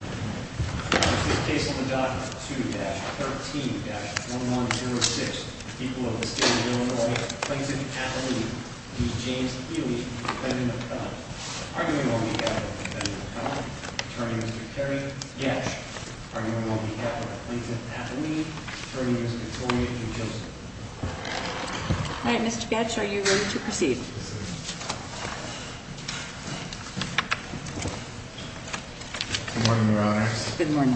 2-13-1106, people of the state of Illinois, Plainton Atholete v. James Ealy, Defendant of Cullen. Arguing on behalf of Defendant of Cullen, Attorney Mr. Kerry Gatch. Arguing on behalf of Plainton Atholete, Attorney Ms. Victoria E. Joseph. All right, Mr. Gatch, are you ready to proceed? Good morning, Your Honors. Good morning.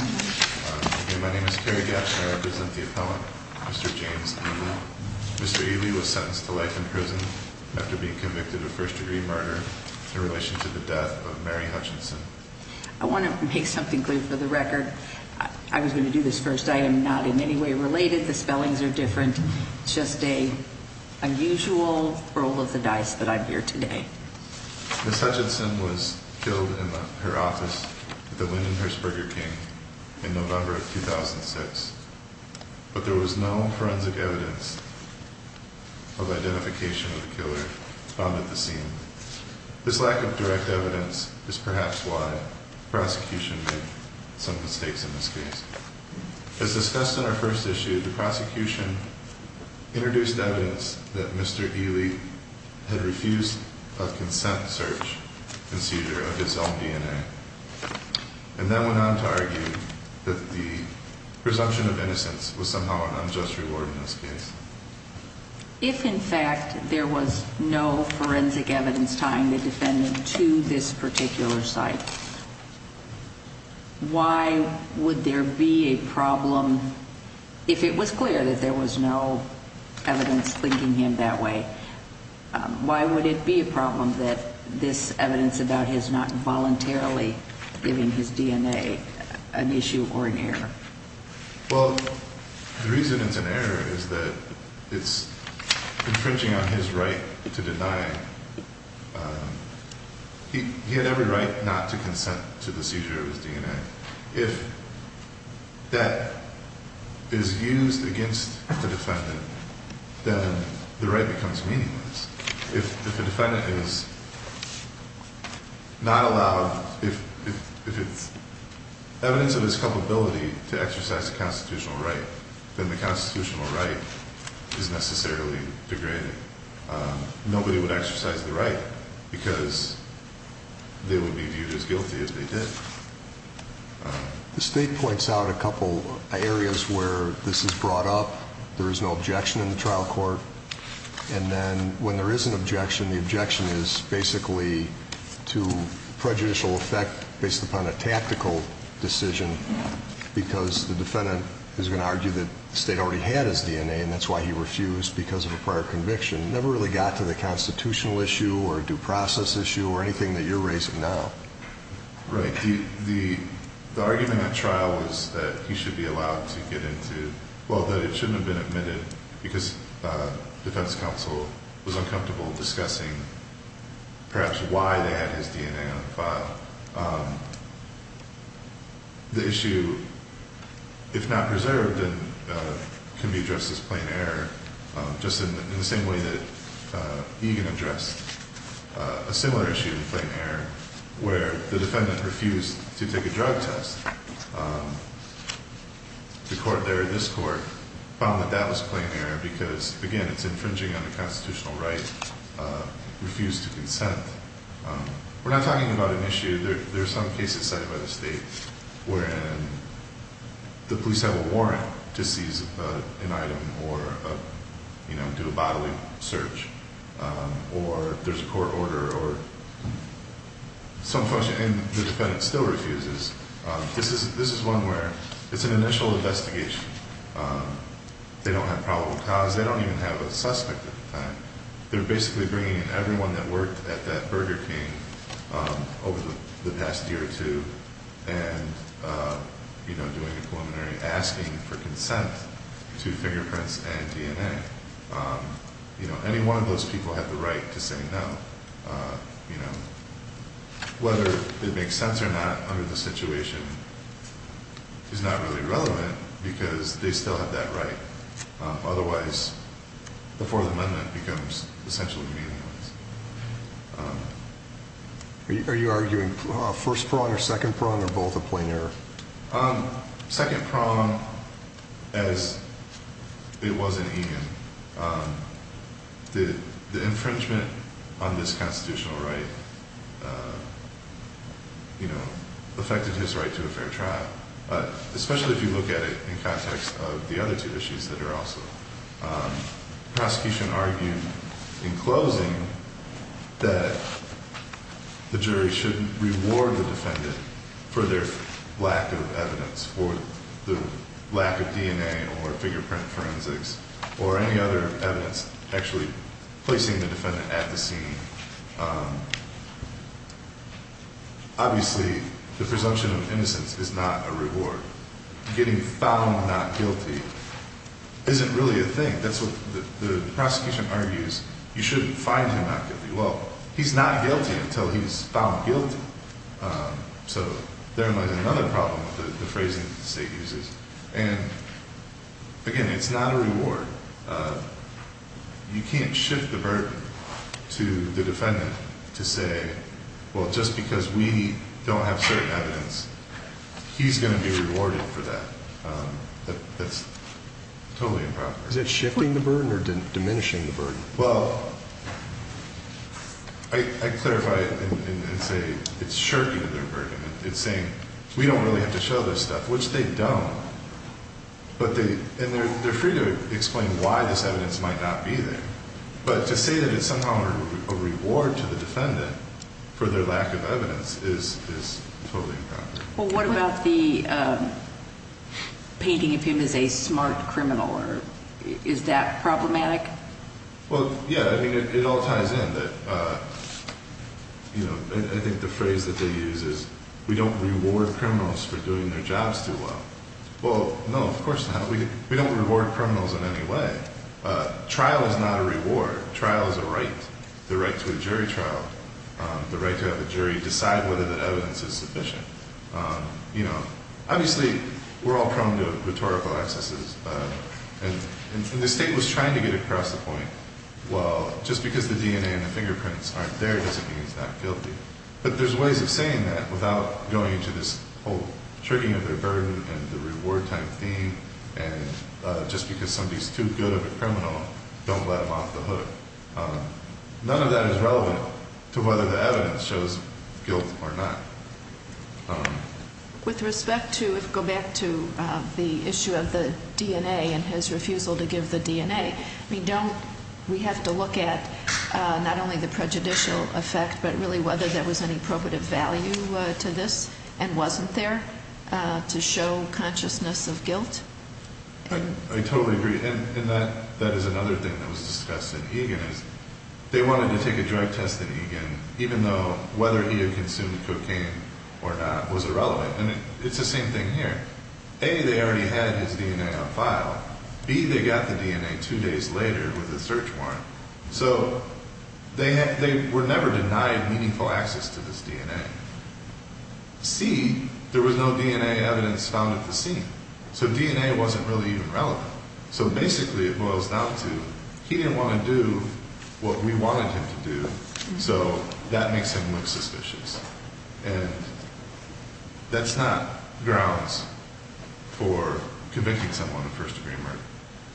My name is Kerry Gatch and I represent the appellant, Mr. James Ealy. Mr. Ealy was sentenced to life in prison after being convicted of first-degree murder in relation to the death of Mary Hutchinson. I want to make something clear for the record. I was going to do this first. I am not in any way related. The spellings are different. It's just an unusual roll of the dice that I'm here today. Ms. Hutchinson was killed in her office at the Lyndon Hersberger King in November of 2006. But there was no forensic evidence of identification of the killer found at the scene. This lack of direct evidence is perhaps why the prosecution made some mistakes in this case. As discussed in our first issue, the prosecution introduced evidence that Mr. Ealy had refused a consent search and seizure of his own DNA. And then went on to argue that the presumption of innocence was somehow an unjust reward in this case. If, in fact, there was no forensic evidence tying the defendant to this particular site, why would there be a problem if it was clear that there was no evidence linking him that way? Why would it be a problem that this evidence about his not voluntarily giving his DNA an issue or an error? Well, the reason it's an error is that it's infringing on his right to deny. He had every right not to consent to the seizure of his DNA. If that is used against the defendant, then the right becomes meaningless. If the defendant is not allowed, if it's evidence of his culpability to exercise a constitutional right, then the constitutional right is necessarily degraded. Nobody would exercise the right because they would be viewed as guilty as they did. The state points out a couple areas where this is brought up. There is no objection in the trial court. And then when there is an objection, the objection is basically to prejudicial effect based upon a tactical decision because the defendant is going to argue that the state already had his DNA and that's why he refused because of a prior conviction. It never really got to the constitutional issue or due process issue or anything that you're raising now. Right. The argument in that trial was that he should be allowed to get into, well, that it shouldn't have been admitted because defense counsel was uncomfortable discussing perhaps why they had his DNA on the file. The issue, if not preserved, can be addressed as plain error just in the same way that Egan addressed a similar issue in plain error where the defendant refused to take a drug test. The court there, this court, found that that was plain error because, again, it's infringing on a constitutional right, refused to consent. We're not talking about an issue. There are some cases cited by the state wherein the police have a warrant to seize an item or do a bodily search or there's a court order or some function and the defendant still refuses. This is one where it's an initial investigation. They don't have probable cause. They don't even have a suspect at the time. They're basically bringing in everyone that worked at that Burger King over the past year or two and, you know, doing a preliminary asking for consent to fingerprints and DNA. You know, any one of those people have the right to say no, you know. Whether it makes sense or not under the situation is not really relevant because they still have that right. Otherwise, the Fourth Amendment becomes essentially meaningless. Are you arguing first prong or second prong or both are plain error? Second prong, as it was in Egan, the infringement on this constitutional right, you know, affected his right to a fair trial, especially if you look at it in context of the other two issues that are also. Prosecution argued in closing that the jury should reward the defendant for their lack of evidence, for the lack of DNA or fingerprint forensics or any other evidence actually placing the defendant at the scene. Obviously, the presumption of innocence is not a reward. Getting found not guilty isn't really a thing. That's what the prosecution argues. You shouldn't find him not guilty. Well, he's not guilty until he's found guilty. So there might be another problem with the phrasing the state uses. And again, it's not a reward. You can't shift the burden to the defendant to say, well, just because we don't have certain evidence, he's going to be rewarded for that. That's totally improper. Is it shifting the burden or diminishing the burden? Well, I clarify it and say it's shirking their burden. It's saying we don't really have to show this stuff, which they don't. And they're free to explain why this evidence might not be there. But to say that it's somehow a reward to the defendant for their lack of evidence is totally improper. Well, what about the painting of him as a smart criminal? Is that problematic? Well, yeah. It all ties in. I think the phrase that they use is we don't reward criminals for doing their jobs too well. Well, no, of course not. We don't reward criminals in any way. Trial is not a reward. Trial is a right. The right to a jury trial. The right to have the jury decide whether that evidence is sufficient. Obviously, we're all prone to rhetorical excesses. And the state was trying to get across the point, well, just because the DNA and the fingerprints aren't there doesn't mean he's not guilty. But there's ways of saying that without going into this whole tricking of their burden and the reward type theme. And just because somebody's too good of a criminal, don't let them off the hook. None of that is relevant to whether the evidence shows guilt or not. With respect to, if we go back to the issue of the DNA and his refusal to give the DNA, we don't, we have to look at not only the prejudicial effect, but really whether there was any probative value to this and wasn't there to show consciousness of guilt. I totally agree. And that is another thing that was discussed at Egan. They wanted to take a drug test at Egan, even though whether he had consumed cocaine or not was irrelevant. And it's the same thing here. A, they already had his DNA on file. B, they got the DNA two days later with a search warrant. So they were never denied meaningful access to this DNA. C, there was no DNA evidence found at the scene. So DNA wasn't really even relevant. So basically it boils down to he didn't want to do what we wanted him to do. So that makes him look suspicious. And that's not grounds for convicting someone of first degree murder,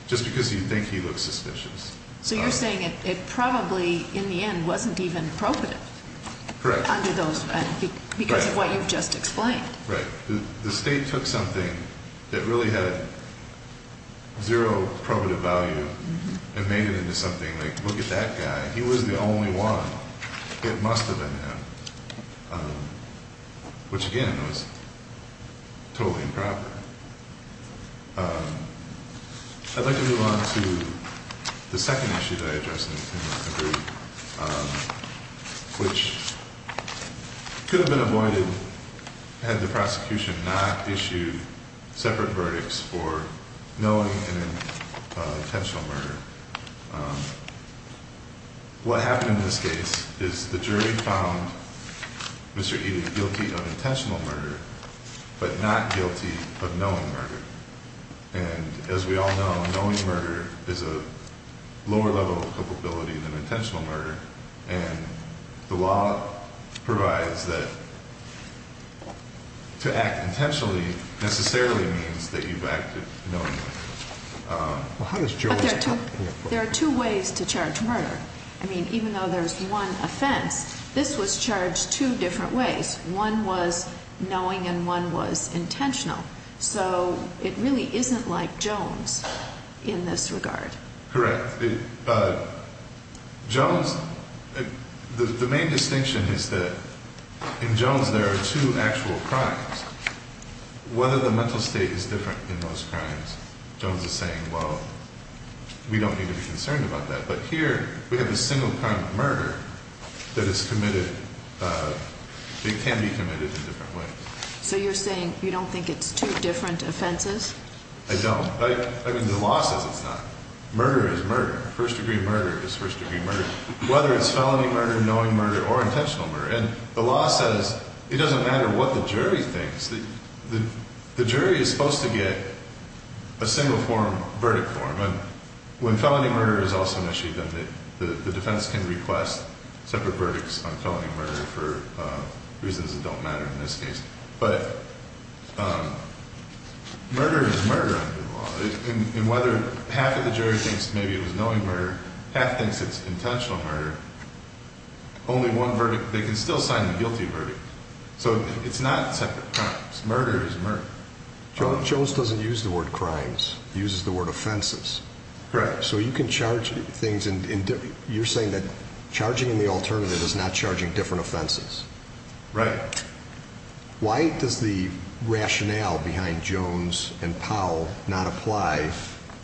just because you think he looks suspicious. So you're saying it probably in the end wasn't even probative. Correct. Under those, because of what you've just explained. Right. The state took something that really had zero probative value and made it into something like, look at that guy. He was the only one. It must have been him. Which, again, was totally improper. I'd like to move on to the second issue that I addressed in the brief. Which could have been avoided had the prosecution not issued separate verdicts for knowing an intentional murder. What happened in this case is the jury found Mr. Edith guilty of intentional murder, but not guilty of knowing murder. And as we all know, knowing murder is a lower level of culpability than intentional murder. And the law provides that to act intentionally necessarily means that you've acted knowingly. There are two ways to charge murder. I mean, even though there's one offense, this was charged two different ways. One was knowing and one was intentional. So it really isn't like Jones in this regard. Correct. Jones, the main distinction is that in Jones there are two actual crimes. Whether the mental state is different in those crimes, Jones is saying, well, we don't need to be concerned about that. But here we have a single crime of murder that is committed, that can be committed in different ways. So you're saying you don't think it's two different offenses? I don't. I mean, the law says it's not. Murder is murder. First degree murder is first degree murder. Whether it's felony murder, knowing murder, or intentional murder. And the law says it doesn't matter what the jury thinks. The jury is supposed to get a single form verdict form. And when felony murder is also an issue, then the defense can request separate verdicts on felony murder for reasons that don't matter in this case. But murder is murder under the law. And whether half of the jury thinks maybe it was knowing murder, half thinks it's intentional murder. Only one verdict. They can still sign the guilty verdict. So it's not separate crimes. Murder is murder. Jones doesn't use the word crimes. He uses the word offenses. Correct. So you can charge things in different. You're saying that charging in the alternative is not charging different offenses. Right. Why does the rationale behind Jones and Powell not apply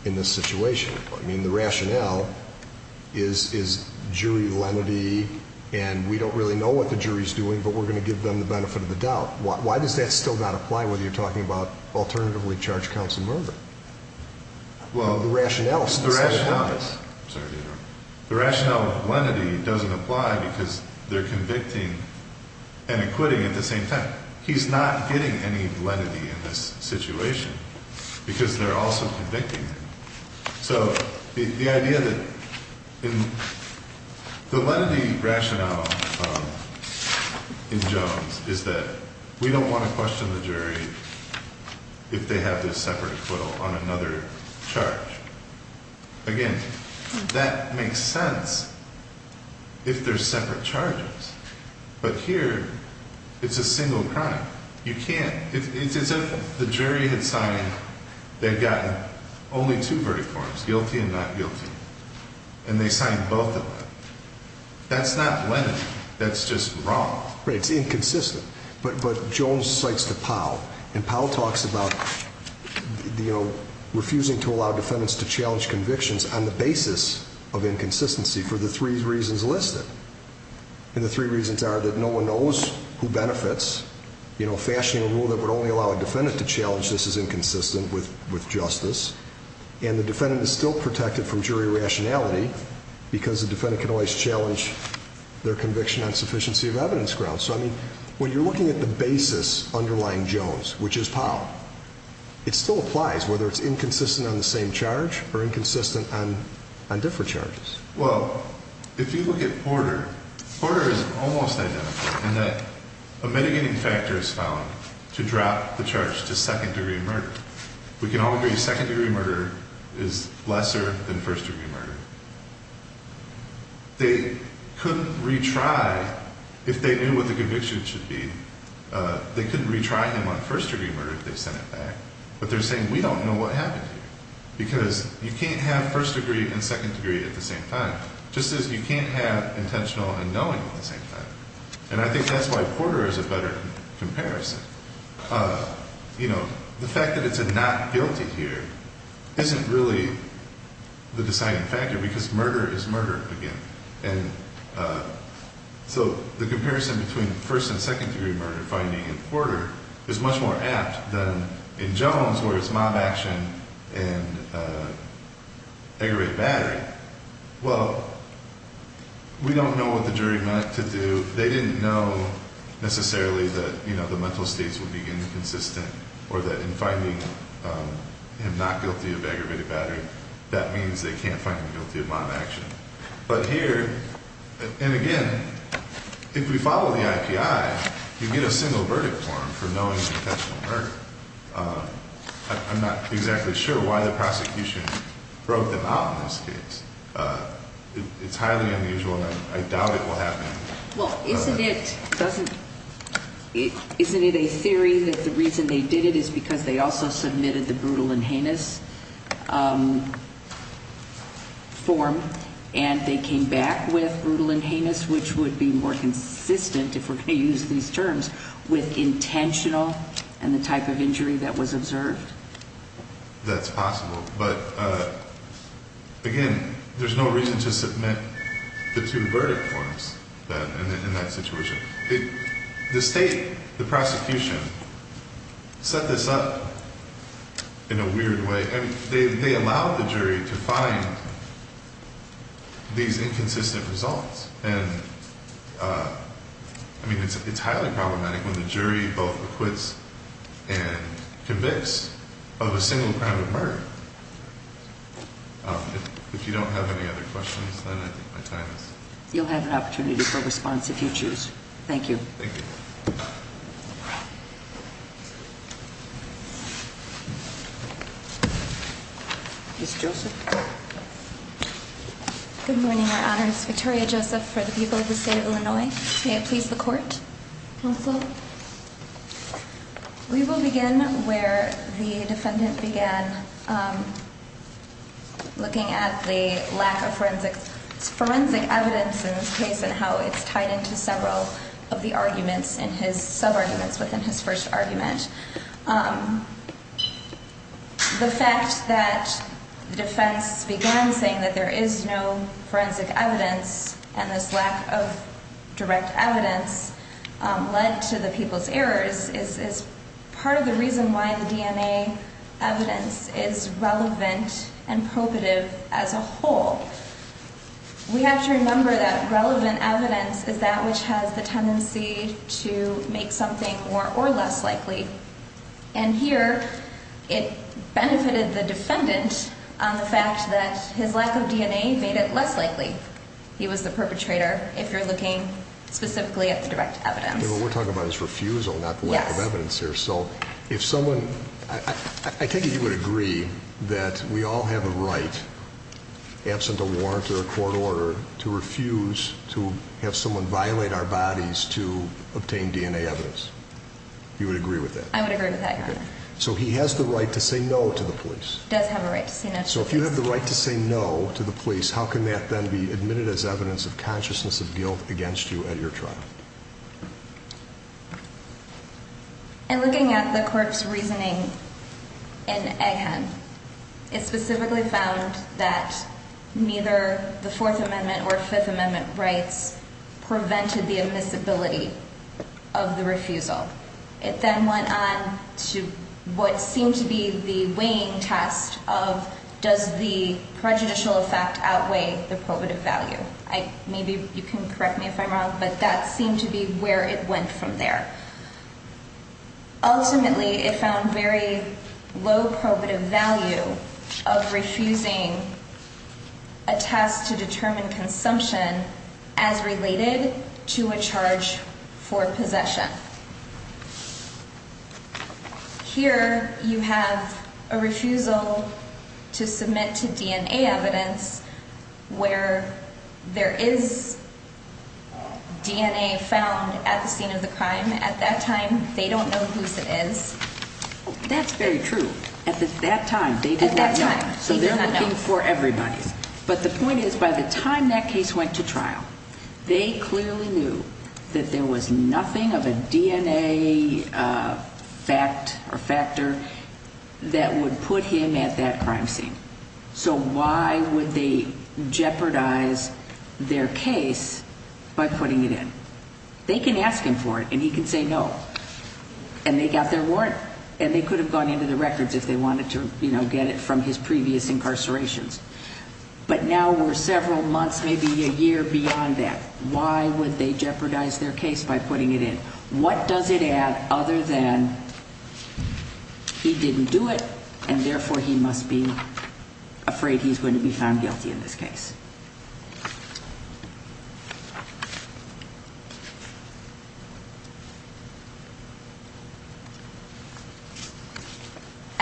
in this situation? I mean, the rationale is jury lenity, and we don't really know what the jury is doing, but we're going to give them the benefit of the doubt. Why does that still not apply when you're talking about alternatively charged counts of murder? Well, the rationale is. The rationale of lenity doesn't apply because they're convicting and acquitting at the same time. He's not getting any lenity in this situation because they're also convicting him. So the idea that the lenity rationale in Jones is that we don't want to question the jury if they have this separate acquittal on another charge. Again, that makes sense if they're separate charges, but here it's a single crime. You can't. It's as if the jury had signed, they've gotten only two verdict forms, guilty and not guilty, and they signed both of them. That's not lenity. That's just wrong. Right. It's inconsistent. But Jones cites the Powell, and Powell talks about, you know, refusing to allow defendants to challenge convictions on the basis of inconsistency for the three reasons listed. And the three reasons are that no one knows who benefits. You know, fashioning a rule that would only allow a defendant to challenge this is inconsistent with justice. And the defendant is still protected from jury rationality because the defendant can always challenge their conviction on sufficiency of evidence grounds. So, I mean, when you're looking at the basis underlying Jones, which is Powell, it still applies whether it's inconsistent on the same charge or inconsistent on different charges. Well, if you look at Porter, Porter is almost identical in that a mitigating factor is found to drop the charge to second degree murder. We can all agree second degree murder is lesser than first degree murder. They couldn't retry if they knew what the conviction should be. They couldn't retry him on first degree murder if they sent it back. But they're saying we don't know what happened to you because you can't have first degree and second degree at the same time, just as you can't have intentional and knowing at the same time. And I think that's why Porter is a better comparison. You know, the fact that it's a not guilty here isn't really the deciding factor because murder is murder again. And so the comparison between first and second degree murder finding in Porter is much more apt than in Jones where it's mob action and aggravated battery. Well, we don't know what the jury meant to do. They didn't know necessarily that, you know, the mental states would be inconsistent or that in finding him not guilty of aggravated battery, that means they can't find him guilty of mob action. But here, and again, if we follow the IPI, you get a single verdict form for knowing intentional murder. I'm not exactly sure why the prosecution broke them out in this case. It's highly unusual and I doubt it will happen. Well, isn't it a theory that the reason they did it is because they also submitted the brutal and heinous form and they came back with brutal and heinous, which would be more consistent, if we're going to use these terms, with intentional and the type of injury that was observed? That's possible, but again, there's no reason to submit the two verdict forms in that situation. The state, the prosecution, set this up in a weird way. They allowed the jury to find these inconsistent results. And I mean, it's highly problematic when the jury both acquits and convicts of a single crime of murder. If you don't have any other questions, then I think my time is- You'll have an opportunity for response if you choose. Thank you. Thank you. Ms. Joseph? Good morning, Your Honor. It's Victoria Joseph for the people of the state of Illinois. May it please the court? Counsel? We will begin where the defendant began, looking at the lack of forensic evidence in this case and how it's tied into several of the arguments and his sub-arguments within his first argument. The fact that the defense began saying that there is no forensic evidence and this lack of direct evidence led to the people's errors is part of the reason why the DNA evidence is relevant and probative as a whole. We have to remember that relevant evidence is that which has the tendency to make something more or less likely. And here, it benefited the defendant on the fact that his lack of DNA made it less likely. He was the perpetrator, if you're looking specifically at the direct evidence. What we're talking about is refusal, not the lack of evidence here. I take it you would agree that we all have a right, absent a warrant or a court order, to refuse to have someone violate our bodies to obtain DNA evidence. You would agree with that? I would agree with that, Your Honor. So he has the right to say no to the police? He does have a right to say no to the police. So if you have the right to say no to the police, how can that then be admitted as evidence of consciousness of guilt against you at your trial? In looking at the court's reasoning in Egghead, it specifically found that neither the Fourth Amendment or Fifth Amendment rights prevented the admissibility of the refusal. It then went on to what seemed to be the weighing test of does the prejudicial effect outweigh the probative value. Maybe you can correct me if I'm wrong, but that seemed to be where it went from there. Ultimately, it found very low probative value of refusing a task to determine consumption as related to a charge for possession. Here, you have a refusal to submit to DNA evidence where there is DNA found at the scene of the crime. At that time, they don't know whose it is. That's very true. At that time, they did not know. So they're looking for everybody. But the point is, by the time that case went to trial, they clearly knew that there was nothing of a DNA fact or factor that would put him at that crime scene. So why would they jeopardize their case by putting it in? They can ask him for it, and he can say no. And they got their warrant, and they could have gone into the records if they wanted to get it from his previous incarcerations. But now we're several months, maybe a year beyond that. Why would they jeopardize their case by putting it in? What does it add other than he didn't do it, and therefore he must be afraid he's going to be found guilty in this case?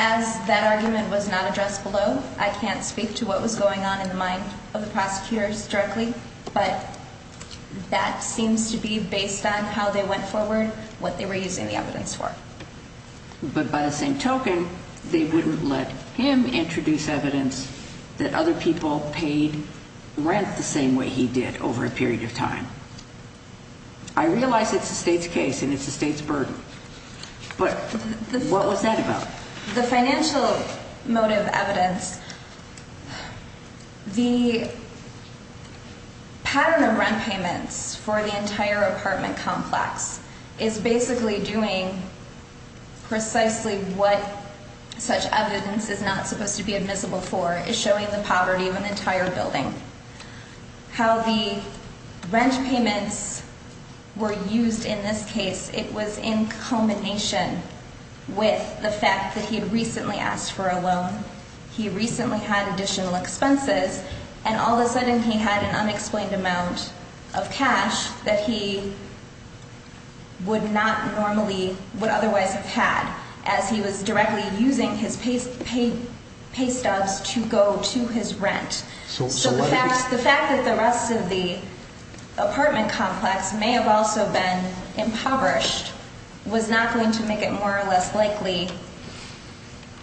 As that argument was not addressed below, I can't speak to what was going on in the mind of the prosecutors directly. But that seems to be based on how they went forward, what they were using the evidence for. But by the same token, they wouldn't let him introduce evidence that other people paid rent the same way he did over a period of time. I realize it's the state's case, and it's the state's burden. But what was that about? The financial motive evidence, the pattern of rent payments for the entire apartment complex is basically doing precisely what such evidence is not supposed to be admissible for. It's showing the poverty of an entire building. How the rent payments were used in this case, it was in culmination with the fact that he had recently asked for a loan. He recently had additional expenses, and all of a sudden he had an unexplained amount of cash that he would not normally, would otherwise have had, as he was directly using his pay stubs to go to his rent. So the fact that the rest of the apartment complex may have also been impoverished was not going to make it more or less likely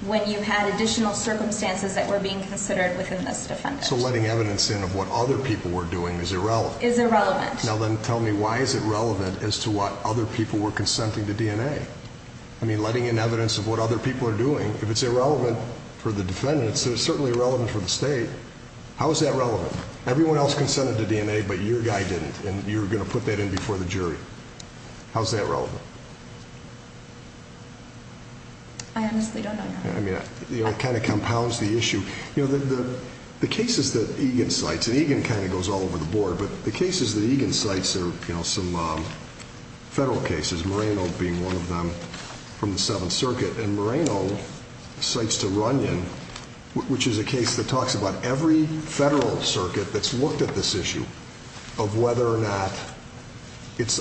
when you had additional circumstances that were being considered within this defendant. So letting evidence in of what other people were doing is irrelevant. Is irrelevant. Now then tell me, why is it relevant as to what other people were consenting to DNA? I mean, letting in evidence of what other people are doing, if it's irrelevant for the defendant, it's certainly irrelevant for the state. How is that relevant? Everyone else consented to DNA, but your guy didn't, and you're going to put that in before the jury. How's that relevant? I honestly don't know, Your Honor. I mean, it kind of compounds the issue. The cases that Egan cites, and Egan kind of goes all over the board, but the cases that Egan cites are some federal cases, Moreno being one of them from the Seventh Circuit. And Moreno cites to Runyon, which is a case that talks about every federal circuit that's looked at this issue of whether or not it's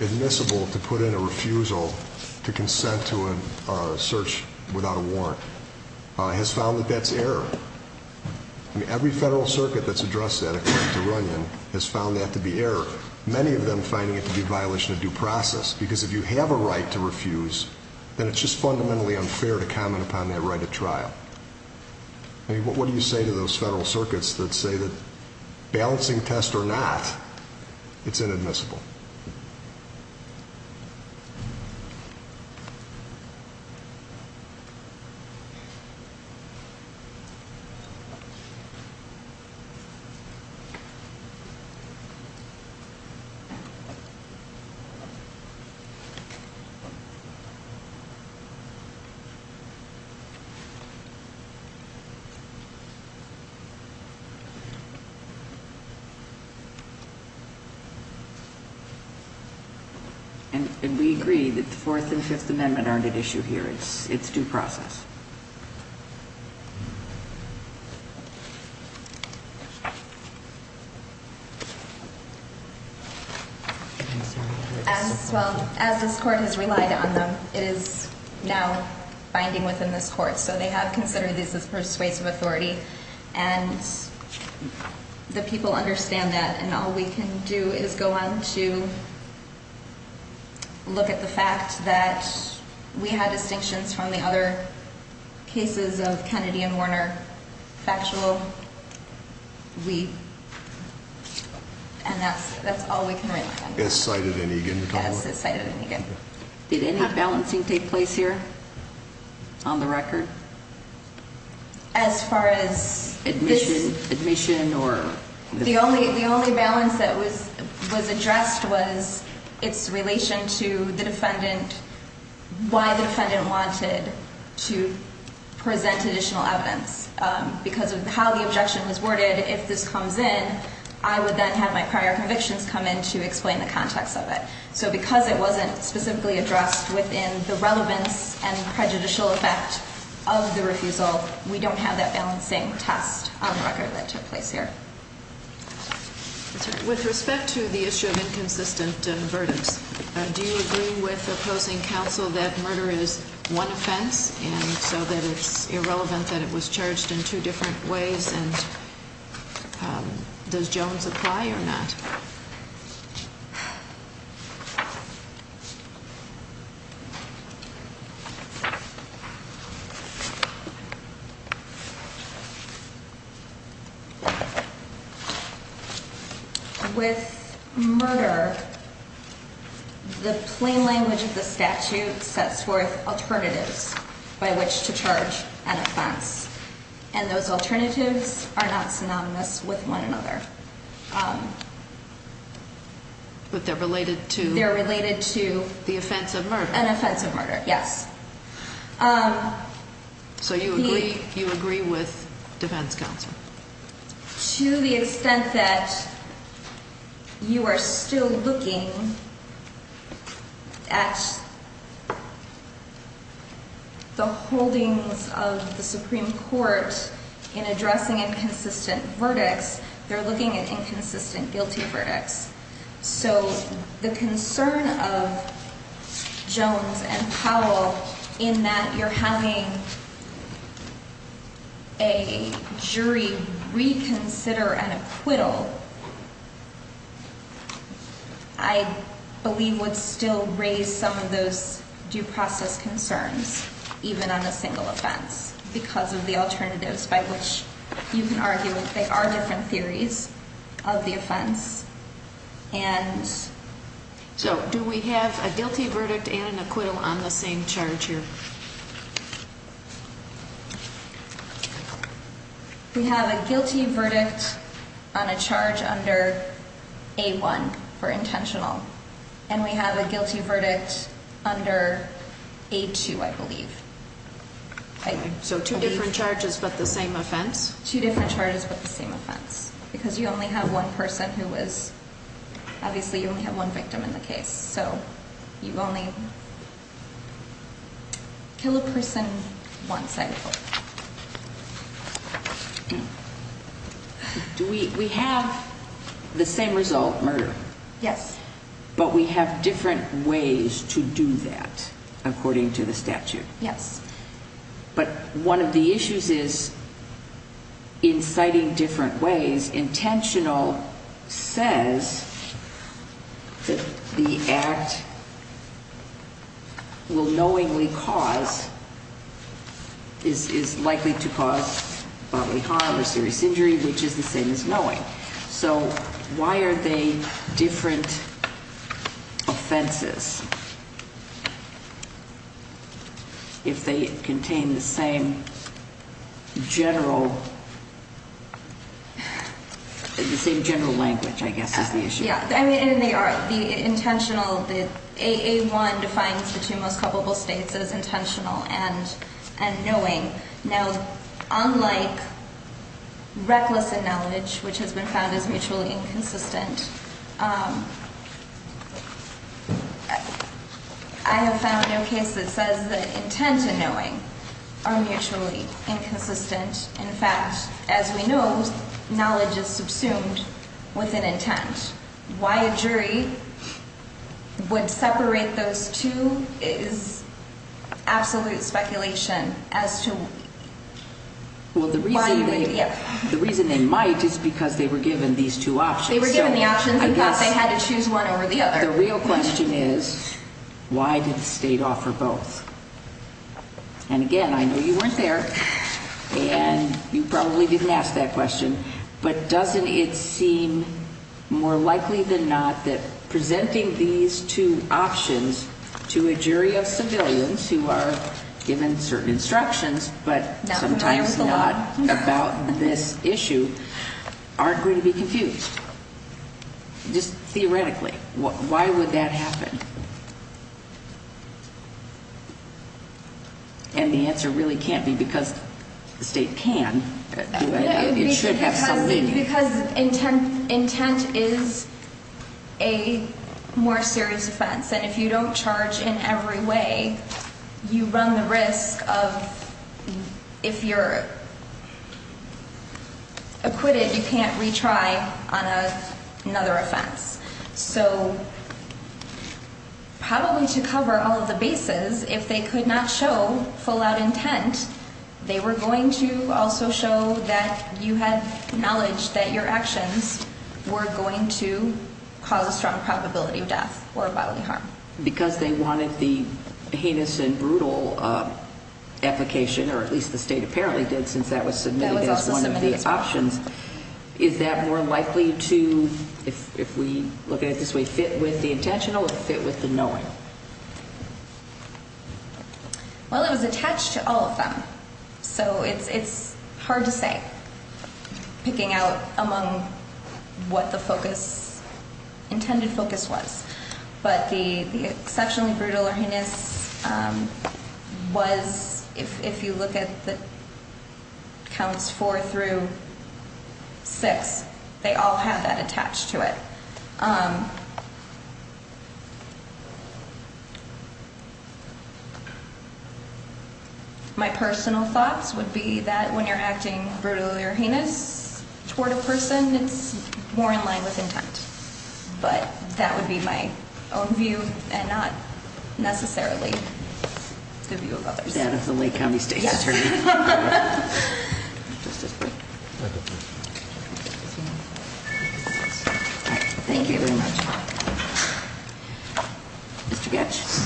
admissible to put in a refusal to consent to a search without a warrant, has found that that's error. Every federal circuit that's addressed that, except to Runyon, has found that to be error. Many of them finding it to be a violation of due process, because if you have a right to refuse, then it's just fundamentally unfair to comment upon that right at trial. I mean, what do you say to those federal circuits that say that balancing test or not, it's inadmissible? And we agree that the Fourth and Fifth Amendment aren't at issue here. It's due process. Well, as this court has relied on them, it is now binding within this court. So they have considered this as persuasive authority, and the people understand that. And all we can do is go on to look at the fact that we had distinctions from the other cases of Kennedy and Warner factual. And that's all we can really find. As cited in Egan. As is cited in Egan. Did any balancing take place here on the record? As far as this- Admission or- The only balance that was addressed was its relation to the defendant, why the defendant wanted to present additional evidence. Because of how the objection was worded, if this comes in, I would then have my prior convictions come in to explain the context of it. So because it wasn't specifically addressed within the relevance and prejudicial effect of the refusal, we don't have that balancing test on the record that took place here. With respect to the issue of inconsistent verdicts, do you agree with opposing counsel that murder is one offense, and so that it's irrelevant that it was charged in two different ways? And does Jones apply or not? With murder, the plain language of the statute sets forth alternatives by which to charge an offense. And those alternatives are not synonymous with one another. But they're related to- They're related to- Yes. So you agree with defense counsel? To the extent that you are still looking at the holdings of the Supreme Court in addressing inconsistent verdicts, they're looking at inconsistent guilty verdicts. So the concern of Jones and Powell in that you're having a jury reconsider an acquittal, I believe would still raise some of those due process concerns, even on a single offense. Because of the alternatives by which you can argue they are different theories of the offense. And so do we have a guilty verdict and an acquittal on the same charge here? We have a guilty verdict on a charge under A1 for intentional. And we have a guilty verdict under A2, I believe. So two different charges but the same offense? Two different charges but the same offense. Because you only have one person who was- Obviously you only have one victim in the case. So you only kill a person once, I believe. We have the same result, murder. Yes. But we have different ways to do that according to the statute. Yes. But one of the issues is, in citing different ways, intentional says that the act will knowingly cause, is likely to cause bodily harm or serious injury, which is the same as knowing. So why are they different offenses? If they contain the same general language, I guess, is the issue. Yeah. I mean, they are intentional. A1 defines the two most culpable states as intentional and knowing. Now, unlike reckless acknowledge, which has been found as mutually inconsistent, I have found no case that says that intent and knowing are mutually inconsistent. In fact, as we know, knowledge is subsumed with an intent. Why a jury would separate those two is absolute speculation as to why you would- Well, the reason they might is because they were given these two options. They were given the options and thought they had to choose one over the other. The real question is, why did the state offer both? And, again, I know you weren't there, and you probably didn't ask that question, but doesn't it seem more likely than not that presenting these two options to a jury of civilians who are given certain instructions, but sometimes not about this issue, aren't going to be confused? Just theoretically, why would that happen? And the answer really can't be because the state can. It should have some meaning. Because intent is a more serious offense. And if you don't charge in every way, you run the risk of, if you're acquitted, you can't retry on another offense. So probably to cover all of the bases, if they could not show full-out intent, they were going to also show that you had knowledge that your actions were going to cause a strong probability of death or bodily harm. Because they wanted the heinous and brutal application, or at least the state apparently did since that was submitted as one of the options, is that more likely to, if we look at it this way, fit with the intentional or fit with the knowing? Well, it was attached to all of them. So it's hard to say, picking out among what the focus, intended focus was. But the exceptionally brutal or heinous was, if you look at the counts four through six, they all have that attached to it. My personal thoughts would be that when you're acting brutally or heinous toward a person, it's more in line with intent. But that would be my own view and not necessarily the view of others. Thank you very much. Mr. Getsch.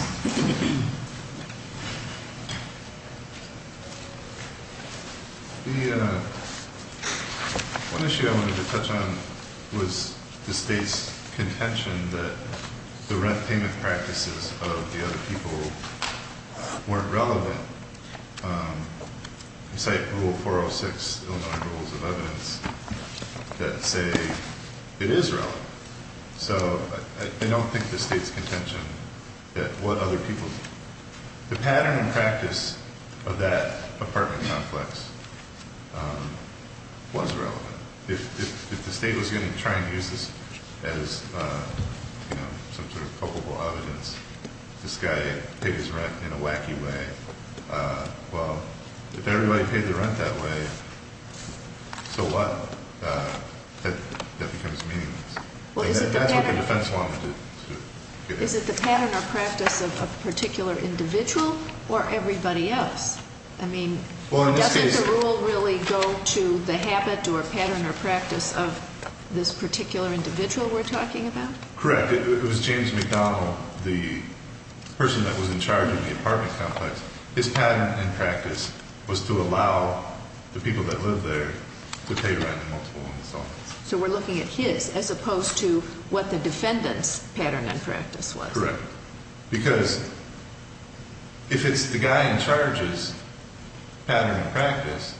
The one issue I wanted to touch on was the state's contention that the rent payment practices of the other people weren't relevant. You cite Rule 406, Illinois Rules of Evidence, that say it is relevant. So I don't think the state's contention that what other people, the pattern and practice of that apartment complex was relevant. If the state was going to try and use this as some sort of culpable evidence, this guy paid his rent in a wacky way, well, if everybody paid their rent that way, so what? That becomes meaningless. That's what the defense wanted to get at. Is it the pattern or practice of a particular individual or everybody else? I mean, doesn't the rule really go to the habit or pattern or practice of this particular individual we're talking about? Correct. It was James McDonald, the person that was in charge of the apartment complex. His pattern and practice was to allow the people that lived there to pay rent in multiple installments. So we're looking at his as opposed to what the defendant's pattern and practice was. Correct. Because if it's the guy in charge's pattern and practice,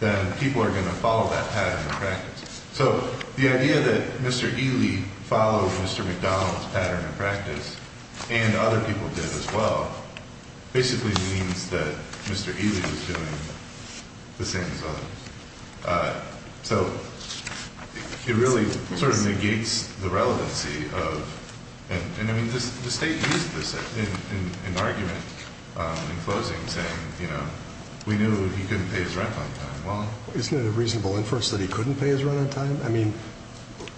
then people are going to follow that pattern and practice. So the idea that Mr. Ely followed Mr. McDonald's pattern and practice, and other people did as well, basically means that Mr. Ely was doing the same as others. So it really sort of negates the relevancy of – and, I mean, the State used this in an argument in closing saying, you know, we knew he couldn't pay his rent on time. Well, isn't it a reasonable inference that he couldn't pay his rent on time? I mean,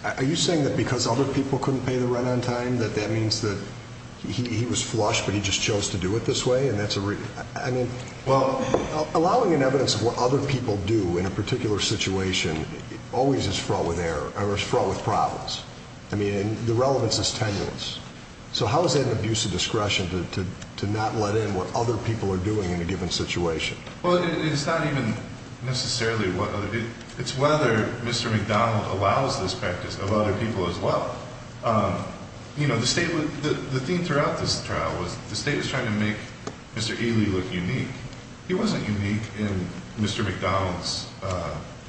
are you saying that because other people couldn't pay their rent on time that that means that he was flush but he just chose to do it this way? Well, allowing an evidence of what other people do in a particular situation always is fraught with problems. I mean, the relevance is tenuous. So how is that an abuse of discretion to not let in what other people are doing in a given situation? Well, it's not even necessarily – it's whether Mr. McDonald allows this practice of other people as well. You know, the State – the theme throughout this trial was the State was trying to make Mr. Ely look unique. He wasn't unique in Mr. McDonald's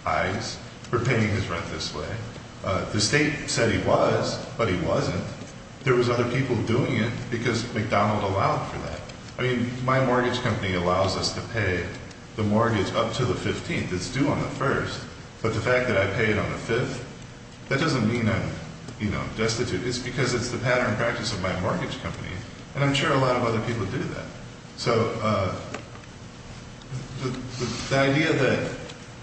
eyes for paying his rent this way. The State said he was, but he wasn't. There was other people doing it because McDonald allowed for that. I mean, my mortgage company allows us to pay the mortgage up to the 15th. It's due on the 1st. But the fact that I paid on the 5th, that doesn't mean I'm, you know, destitute. It's because it's the pattern and practice of my mortgage company, and I'm sure a lot of other people do that. So the idea that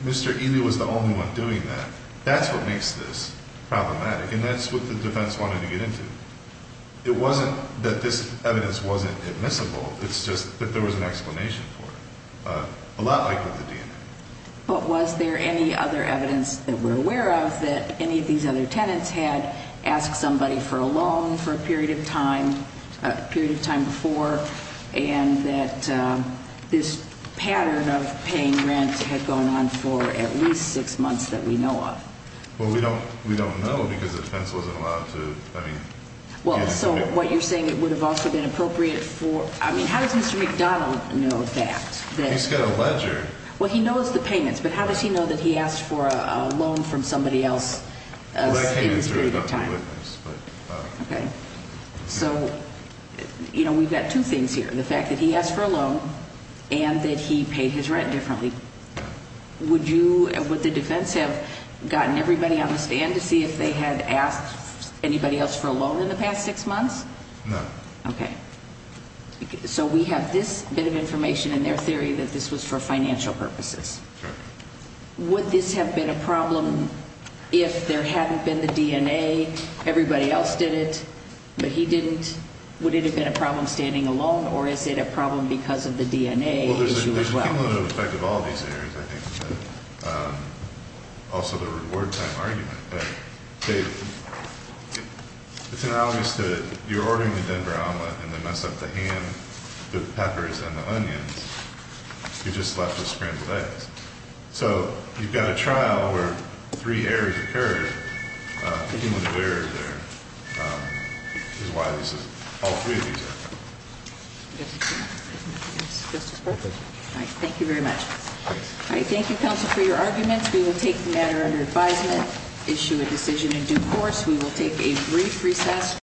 Mr. Ely was the only one doing that, that's what makes this problematic, and that's what the defense wanted to get into. It wasn't that this evidence wasn't admissible. It's just that there was an explanation for it, a lot like with the DNA. But was there any other evidence that we're aware of that any of these other tenants had asked somebody for a loan for a period of time, a period of time before, and that this pattern of paying rent had gone on for at least six months that we know of? Well, we don't know because the defense wasn't allowed to – I mean – Well, so what you're saying, it would have also been appropriate for – I mean, how does Mr. McDonald know that? He's got a ledger. Well, he knows the payments, but how does he know that he asked for a loan from somebody else in this period of time? Well, that came in during the witness, but – Okay. So, you know, we've got two things here, the fact that he asked for a loan and that he paid his rent differently. Would you – would the defense have gotten everybody on the stand to see if they had asked anybody else for a loan in the past six months? No. Okay. So we have this bit of information in their theory that this was for financial purposes. Okay. Would this have been a problem if there hadn't been the DNA, everybody else did it, but he didn't? Would it have been a problem standing alone, or is it a problem because of the DNA issue as well? Well, there's a cumulative effect of all these areas, I think, but also the reward time argument. It's analogous to – you're ordering the Denver omelet and they mess up the ham, the peppers, and the onions. You're just left with scrambled eggs. So you've got a trial where three errors occurred. A cumulative error there is why all three of these are. Yes. Justice Brooks? Yes, Justice Brooks. All right. Thank you very much. All right. Thank you, counsel, for your arguments. We will take the matter under advisement, issue a decision in due course. We will take a brief recess.